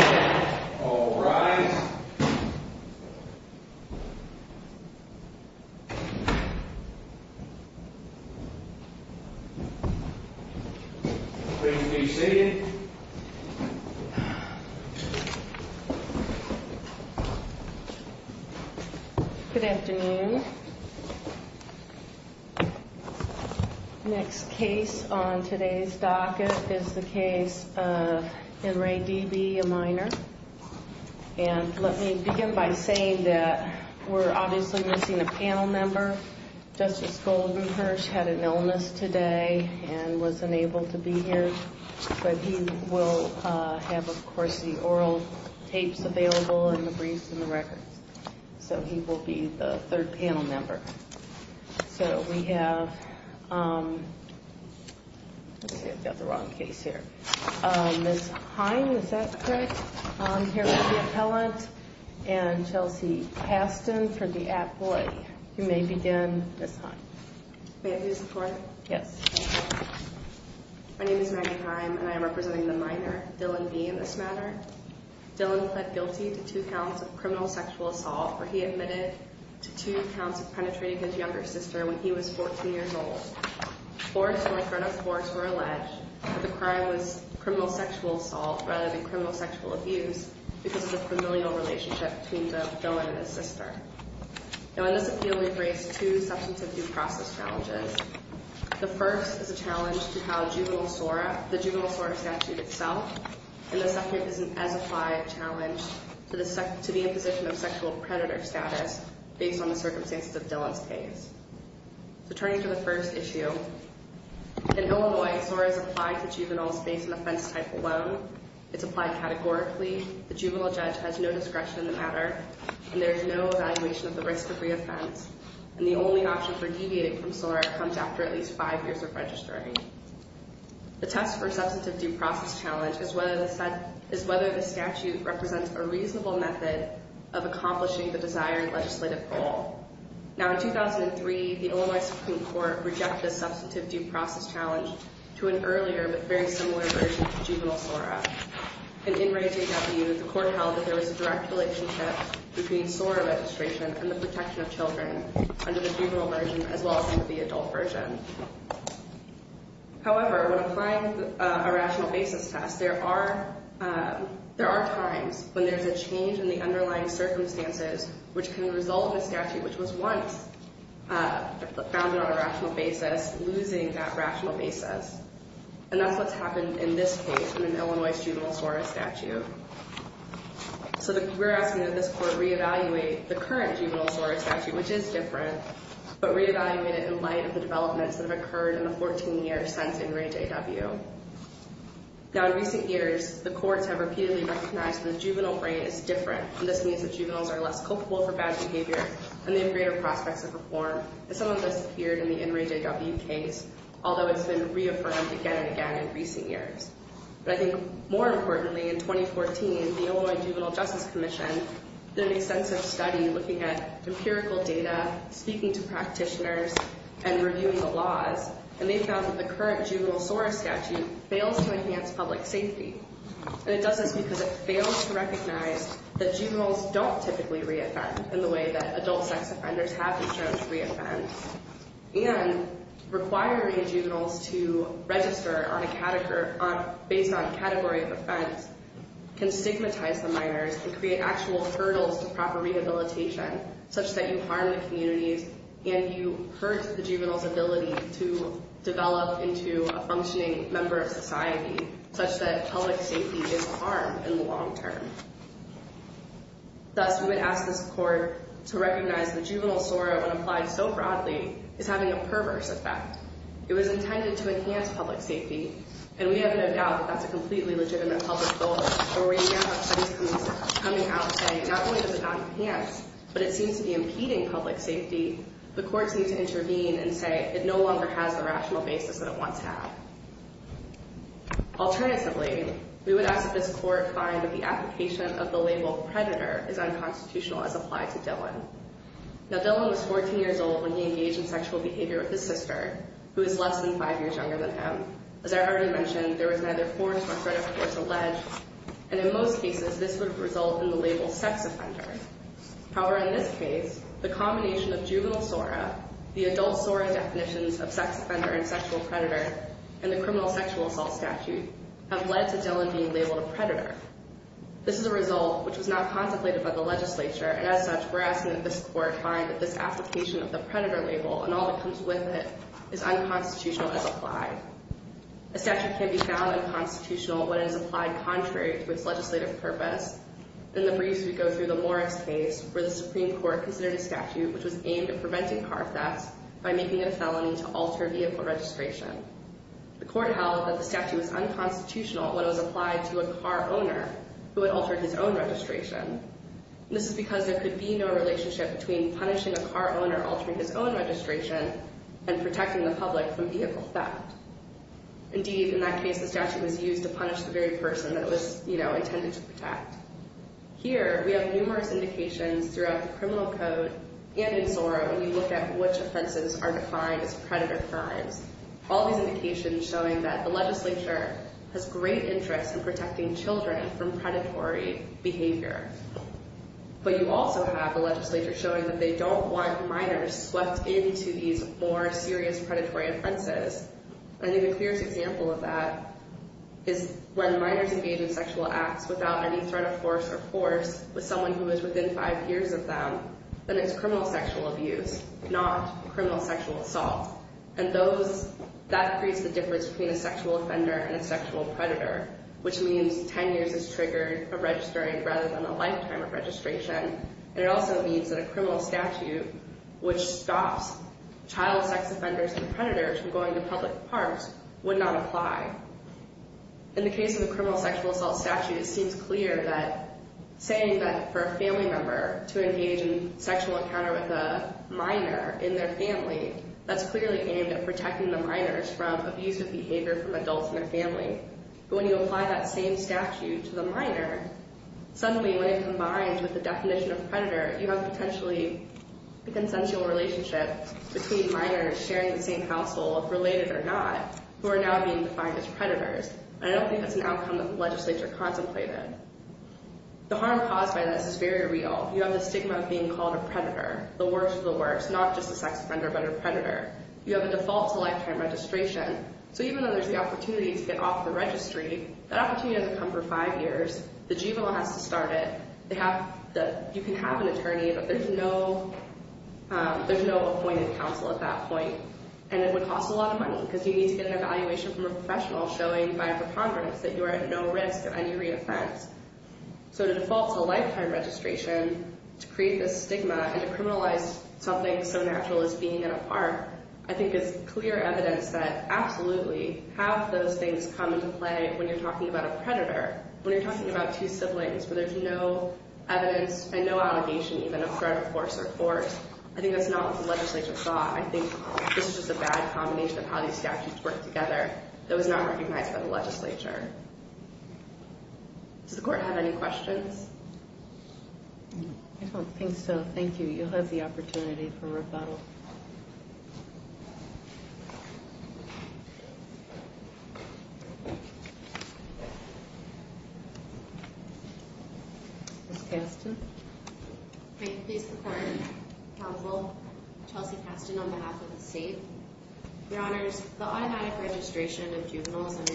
Yeah, all right. Please be seated. Good afternoon. Next case on today's docket is the case of Henry D.B., a minor. And let me begin by saying that we're obviously missing a panel member. Justice Goldenherz had an illness today and wasn't able to be here. But he will have, of course, the oral tapes available and the briefs and the records. So he will be the third panel member. So we have, let's see, I've got the wrong case here. Ms. Heim, is that correct? Here we have the appellant and Chelsea Paston for the employee. You may begin, Ms. Heim. May I be of support? Yes. My name is Maggie Heim, and I am representing the minor, Dylan B. in this matter. Dylan pled guilty to two counts of criminal sexual assault, where he admitted to two counts of penetrating his younger sister when he was 14 years old. Forced, or in front of force, were alleged that the crime was criminal sexual assault, rather than criminal sexual abuse, because of the familial relationship between the villain and his sister. Now, in this appeal, we've raised two substantive due process challenges. The first is a challenge to how juvenile SORA, the juvenile SORA statute itself. And the second is an as-applied challenge to the imposition of sexual predator status, based on the circumstances of Dylan's case. So turning to the first issue, in Illinois, SORA is applied to juveniles based on the offense type alone. It's applied categorically. The juvenile judge has no discretion in the matter, and there is no evaluation of the risk of re-offense. And the only option for deviating from SORA comes after at least five years of registering. The test for substantive due process challenge is whether the statute represents a reasonable method of accomplishing the desired legislative goal. Now, in 2003, the Illinois Supreme Court rejected substantive due process challenge to an earlier, but very similar version to juvenile SORA. And in raising that view, the court held that there was a direct relationship between SORA registration and the protection of children under the juvenile version, as well as under the adult version. However, when applying a rational basis test, there are times when there's a change in the underlying circumstances which can result in a statute which was once founded on a rational basis losing that rational basis. And that's what's happened in this case, in an Illinois juvenile SORA statute. So we're asking that this court re-evaluate the current juvenile SORA statute, which is different, but re-evaluate it in light of the developments that have occurred in the 14 years since In Rej AW. Now, in recent years, the courts have repeatedly recognized that the juvenile rate is different. And this means that juveniles are less culpable for bad behavior, and they have greater prospects of reform. And some of this appeared in the In Rej AW case, although it's been reaffirmed again and again in recent years. But I think more importantly, in 2014, the Illinois Juvenile Justice Commission did an extensive study in looking at empirical data, speaking to practitioners, and reviewing the laws. And they found that the current juvenile SORA statute fails to enhance public safety. And it does this because it fails to recognize that juveniles don't typically re-offend in the way that adult sex offenders have been shown to re-offend. And requiring juveniles to register based on category of offense can stigmatize the minors and create actual hurdles to proper rehabilitation, such that you harm the communities, and you hurt the juvenile's ability to develop into a functioning member of society, such that public safety is harmed in the long term. Thus, we would ask this court to recognize that juvenile SORA, when applied so broadly, is having a perverse effect. It was intended to enhance public safety, and we have no doubt that that's a completely legitimate public goal. But we now have studies coming out saying, not only does it not enhance, but it seems to be impeding public safety. The court seems to intervene and say, it no longer has the rational basis that it once had. Alternatively, we would ask that this court find that the application of the label predator is unconstitutional as applied to Dylan. Now, Dylan was 14 years old when he engaged in sexual behavior with his sister, who was less than five years younger than him. As I already mentioned, there was neither force nor threat of force alleged, and in most cases, this would result in the label sex offender. However, in this case, the combination of juvenile SORA, the adult SORA definitions of sex offender and sexual predator, and the criminal sexual assault statute have led to Dylan being labeled a predator. This is a result which was not contemplated by the legislature, and as such, we're asking that this court find that this application of the predator label, and all that comes with it, is unconstitutional as applied. A statute can be found unconstitutional when it is applied contrary to its legislative purpose. In the briefs, we go through the Morris case, where the Supreme Court considered a statute which was aimed at preventing car thefts by making it a felony to alter vehicle registration. The court held that the statute was unconstitutional when it was applied to a car owner who had altered his own registration. This is because there could be no relationship between punishing a car owner altering his own registration and protecting the public from vehicle theft. Indeed, in that case, the statute was used to punish the very person that it was intended to protect. Here, we have numerous indications throughout the criminal code and in SORA, and we look at which offenses are defined as predator crimes. All these indications showing that the legislature has great interest in protecting children from predatory behavior. But you also have the legislature showing that they don't want minors swept into these more serious predatory offenses. I think the clearest example of that is when minors engage in sexual acts without any threat of force or force with someone who is within five years of them, then it's criminal sexual abuse, not criminal sexual assault. And that creates the difference between a sexual offender and a sexual predator, which means 10 years is triggered from registering rather than a lifetime of registration. And it also means that a criminal statute which stops child sex offenders and predators from going to public parks would not apply. In the case of the criminal sexual assault statute, it seems clear that saying that for a family member to engage in sexual encounter with a minor in their family, that's clearly aimed at protecting the minors from abusive behavior from adults in their family. But when you apply that same statute to the minor, suddenly when it combines with the definition of predator, you have potentially a consensual relationship between minors sharing the same household, related or not, who are now being defined as predators. I don't think that's an outcome that the legislature contemplated. The harm caused by this is very real. You have the stigma of being called a predator. The worst of the worst, not just a sex offender, but a predator. You have a default to lifetime registration. So even though there's the opportunity to get off the registry, that opportunity doesn't come for five years. The juvenile has to start it. You can have an attorney, but there's no appointed counsel at that point. And it would cost a lot of money, because you need to get an evaluation from a professional showing by a preponderance that you are at no risk of any re-offense. So to default to lifetime registration, to create this stigma, and to criminalize something so natural as being in a park, I think is clear evidence that absolutely, half those things come into play when you're talking about a predator. When you're talking about two siblings, where there's no evidence, and no allegation even, of threat of force or force. I think that's not what the legislature thought. I think this is just a bad combination of how these statutes work together. It was not recognized by the legislature. Does the court have any questions? I don't think so. Thank you. You'll have the opportunity for rebuttal. Ms. Caston? May I please perform the counsel, Chelsea Caston, on behalf of the state? Your honors, the automatic registration of juveniles under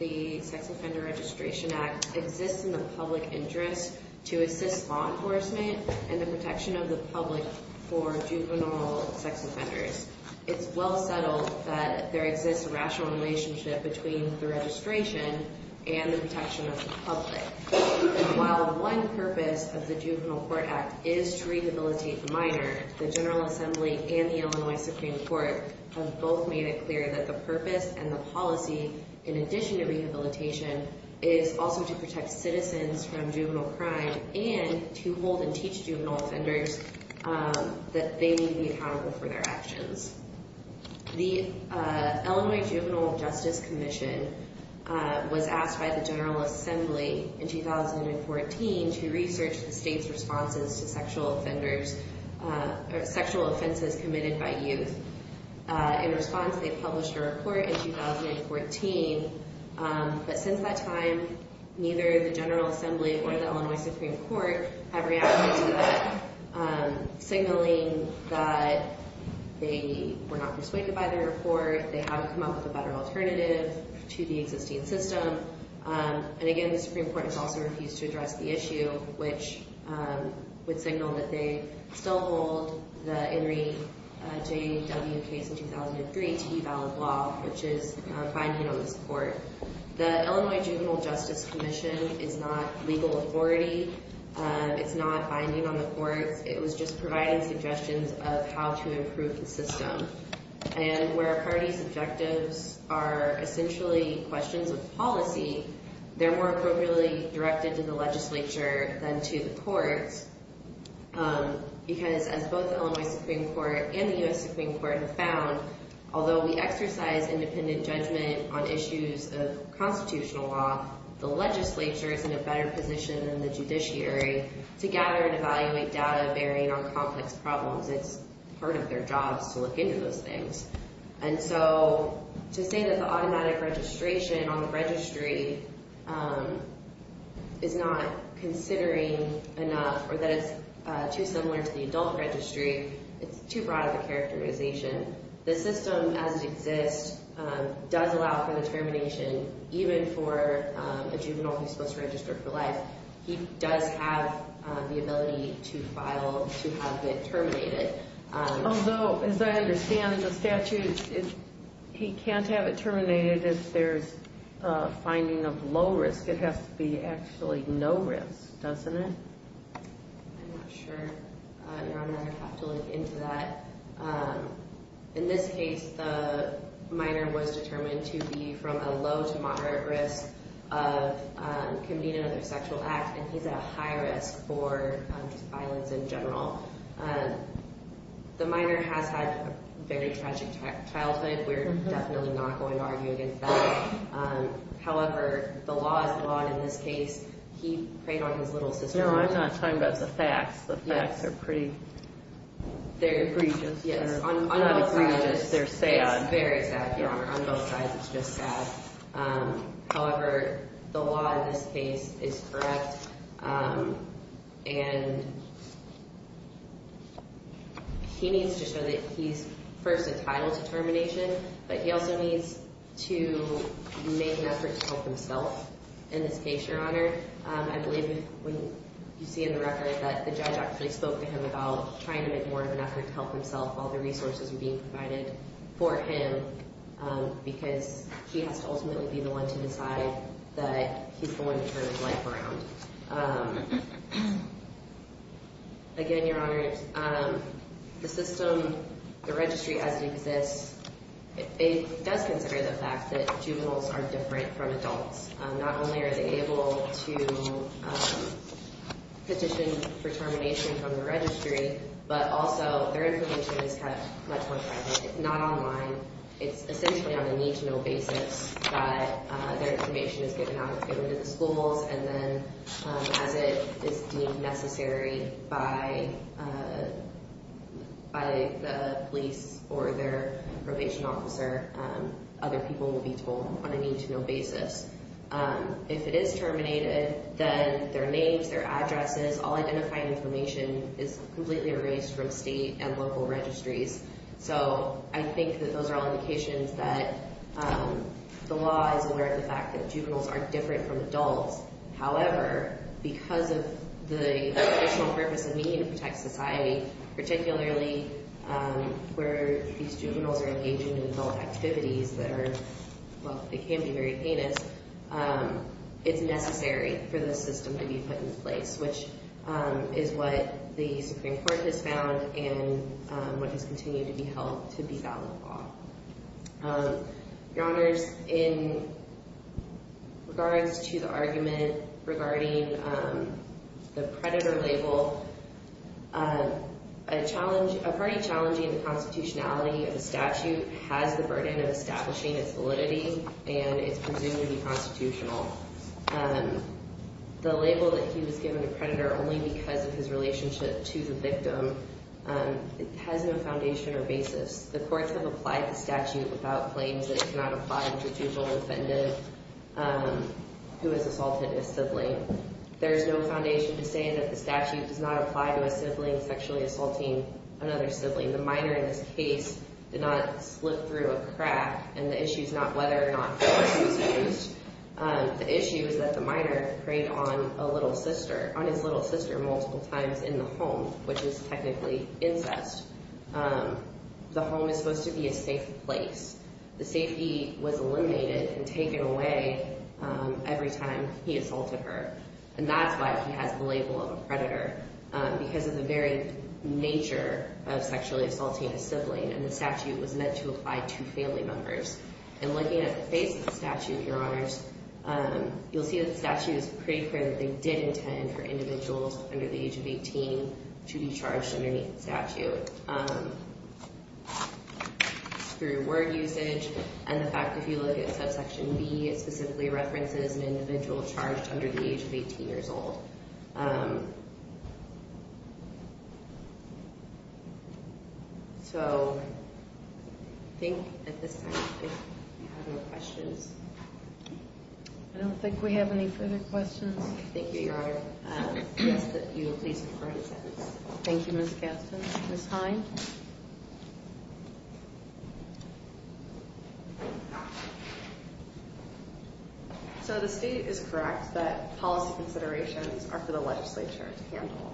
the Sex Offender Registration Act exists in the public interest to assist law enforcement and the protection of the public for juvenile sex offenders. It's well settled that there exists a rational relationship between the registration and the protection of the public. While one purpose of the Juvenile Court Act is to rehabilitate the minor, the General Assembly and the Illinois Supreme Court have both made it clear that the purpose and the policy, in addition to rehabilitation, is also to protect citizens from juvenile crime and to hold and teach juvenile offenders that they need to be accountable for their actions. The Illinois Juvenile Justice Commission was asked by the General Assembly in 2014 to research the state's responses to sexual offenders, or sexual offenses committed by youth. In response, they published a report in 2014. But since that time, neither the General Assembly or the Illinois Supreme Court have reacted to that, signaling that they were not persuaded by their report, they haven't come up with a better alternative to the existing system. And again, the Supreme Court has also refused to address the issue, which would signal that they still hold the Henry J.W. case in 2003 to be valid law, which is binding on this court. The Illinois Juvenile Justice Commission is not legal authority, it's not binding on the courts, it was just providing suggestions of how to improve the system. And where a party's objectives are essentially questions of policy, their work were really directed to the legislature than to the courts. Because as both the Illinois Supreme Court and the U.S. Supreme Court have found, although we exercise independent judgment on issues of constitutional law, the legislature is in a better position than the judiciary to gather and evaluate data bearing on complex problems. It's part of their jobs to look into those things. And so, to say that the automatic registration on the registry is not considering enough, or that it's too similar to the adult registry, it's too broad of a characterization. The system as it exists does allow for the termination, even for a juvenile who's supposed to register for life, he does have the ability to file to have it terminated. Although, as I understand the statute, he can't have it terminated if there's a finding of low risk. It has to be actually no risk, doesn't it? I'm not sure. Your Honor, I'd have to look into that. In this case, the minor was determined to be from a low to moderate risk of committing another sexual act, and he's at a high risk for violence in general. The minor has had a very tragic childhood. We're definitely not going to argue against that. However, the law is the law in this case. He preyed on his little sister. No, I'm not talking about the facts. The facts are pretty egregious. On both sides, they're sad. Very sad, Your Honor. On both sides, it's just sad. However, the law in this case is correct. And he needs to show that he's first entitled to termination, but he also needs to make an effort to help himself in this case, Your Honor. I believe you see in the record that the judge actually spoke to him about trying to make more of an effort to help himself. All the resources were being provided for him because he has to ultimately be the one to decide that he's the one to turn his life around. Again, Your Honor, the system, the registry as it exists, it does consider the fact that juveniles are different from adults. Not only are they able to petition for termination from the registry, but also their information is kept much more private. It's not online. It's essentially on a need-to-know basis that their information is given out. It's given to the schools, and then as it is deemed necessary by the police or their probation officer, other people will be told on a need-to-know basis. If it is terminated, then their names, their addresses, all identified information is completely erased from state and local registries. So I think that those are all indications that the law is aware of the fact that juveniles are different from adults. However, because of the additional purpose of needing to protect society, particularly where these juveniles are engaging in adult activities that are, well, they can be very heinous, it's necessary for the system to be put in place, which is what the Supreme Court has found and what has continued to be held to be valid law. Your Honors, in regards to the argument regarding the predator label, a party challenging the constitutionality of the statute has the burden of establishing its validity, and it's presumed to be constitutional. The label that he was given a predator only because of his relationship to the victim has no foundation or basis. The courts have applied the statute without claims that it cannot apply to a juvenile offender who has assaulted a sibling. There is no foundation to say that the statute does not apply to a sibling sexually assaulting another sibling. The minor in this case did not slip through a crack, and the issue is not whether or not he was abused. The issue is that the minor preyed on a little sister, on his little sister multiple times in the home, which is technically incest. The home is supposed to be a safe place. The safety was eliminated and taken away every time he assaulted her. And that's why he has the label of a predator, because of the very nature of sexually assaulting a sibling, and the statute was meant to apply to family members. And looking at the face of the statute, Your Honors, you'll see that the statute is pretty clear that they did intend for individuals under the age of 18 to be charged underneath the statute. Through word usage, and the fact that if you look at subsection B, it specifically references an individual charged under the age of 18 years old. So, I think at this time we have no questions. I don't think we have any further questions. Thank you, Your Honor. I ask that you please record your sentence. Thank you, Ms. Gaston. Ms. Hind? So, the state is correct that policy considerations are for the legislature to handle.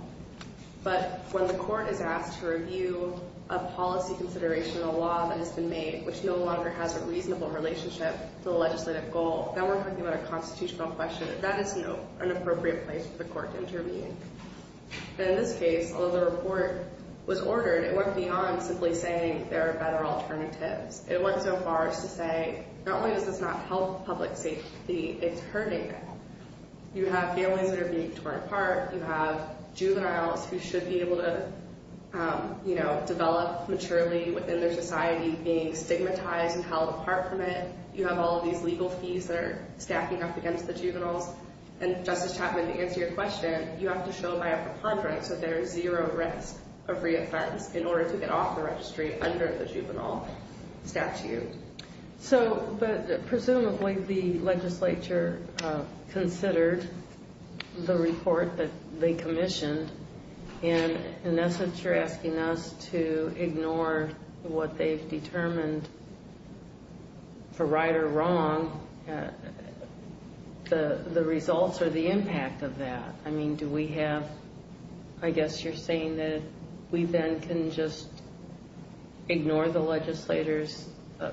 But when the court is asked to review a policy consideration, a law that has been made which no longer has a reasonable relationship to the legislative goal, then we're talking about a constitutional question. That is not an appropriate place for the court to intervene. In this case, although the report was ordered, it went beyond simply saying there are better alternatives. It went so far as to say, not only does this not help public safety, it's hurting them. You have families that are being torn apart. You have juveniles who should be able to develop maturely within their society being stigmatized and held apart from it. You have all of these legal fees that are stacking up against the juveniles. And, Justice Chapman, to answer your question, you have to show by a preponderance that there is zero risk of re-offense in order to get off the registry under the juvenile statute. So, but presumably the legislature considered the report that they commissioned, and in essence you're asking us to ignore what they've determined for right or wrong, the results or the impact of that. I mean, do we have, I guess you're saying that we then can just ignore the legislator's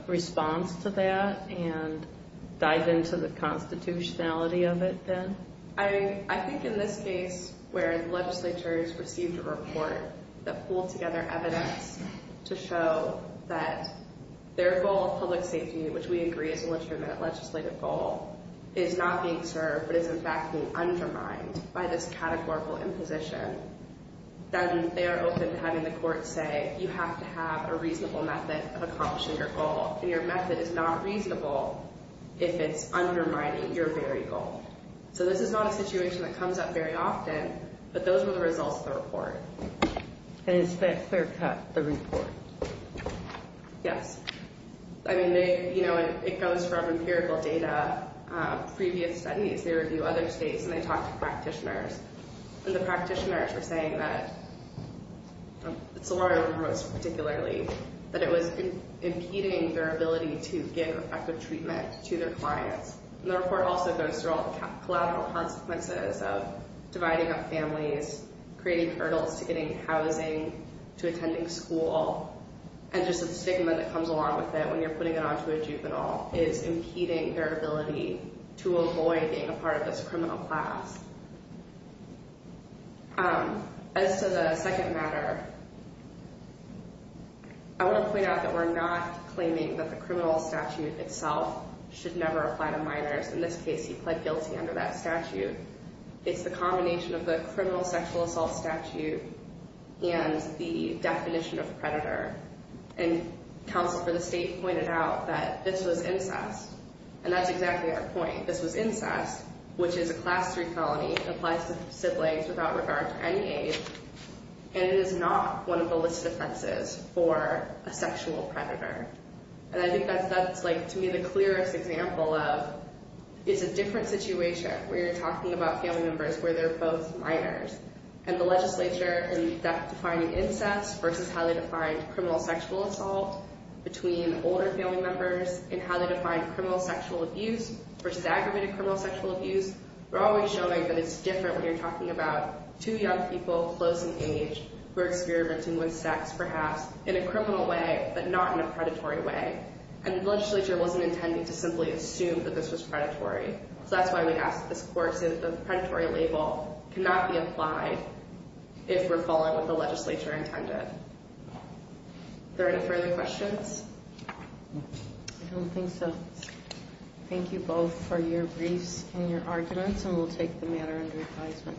response to that and dive into the constitutionality of it then? I think in this case where the legislature has received a report that pulled together evidence to show that their goal of public safety, which we agree is a legitimate legislative goal, is not being served but is in fact being undermined by this categorical imposition, then they are open to having the court say, you have to have a reasonable method of accomplishing your goal. And your method is not reasonable if it's undermining your very goal. So this is not a situation that comes up very often, but those were the results of the report. And is that clear-cut, the report? Yes. I mean, you know, it comes from empirical data. Previous studies, they review other states and they talk to practitioners. And the practitioners were saying that, Solorio wrote particularly, that it was impeding their ability to give effective treatment to their clients. And the report also goes through all the collateral consequences of dividing up families, creating hurdles to getting housing, to attending school, and just the stigma that comes along with it when you're putting it onto a juvenile is impeding their ability to avoid being a part of this criminal class. As to the second matter, I want to point out that we're not claiming that the criminal statute itself should never apply to minors. In this case, he pled guilty under that statute. It's the combination of the criminal sexual assault statute and the definition of predator. And counsel for the state pointed out that this was incest. And that's exactly our point. This was incest, which is a class 3 felony. It applies to siblings without regard to any age. And it is not one of the listed offenses for a sexual predator. And I think that's, to me, the clearest example of, it's a different situation where you're talking about family members where they're both minors. And the legislature in defining incest versus how they defined criminal sexual assault between older family members and how they defined criminal sexual abuse versus aggravated criminal sexual abuse, they're always showing that it's different when you're talking about two young people, close in age, who are experimenting with sex, perhaps, in a criminal way, but not in a predatory way. And the legislature wasn't intending to simply assume that this was predatory. So that's why we ask that this court say that the predatory label cannot be applied if we're following what the legislature intended. Are there any further questions? I don't think so. Thank you both for your briefs and your arguments. And we'll take the matter under advisement.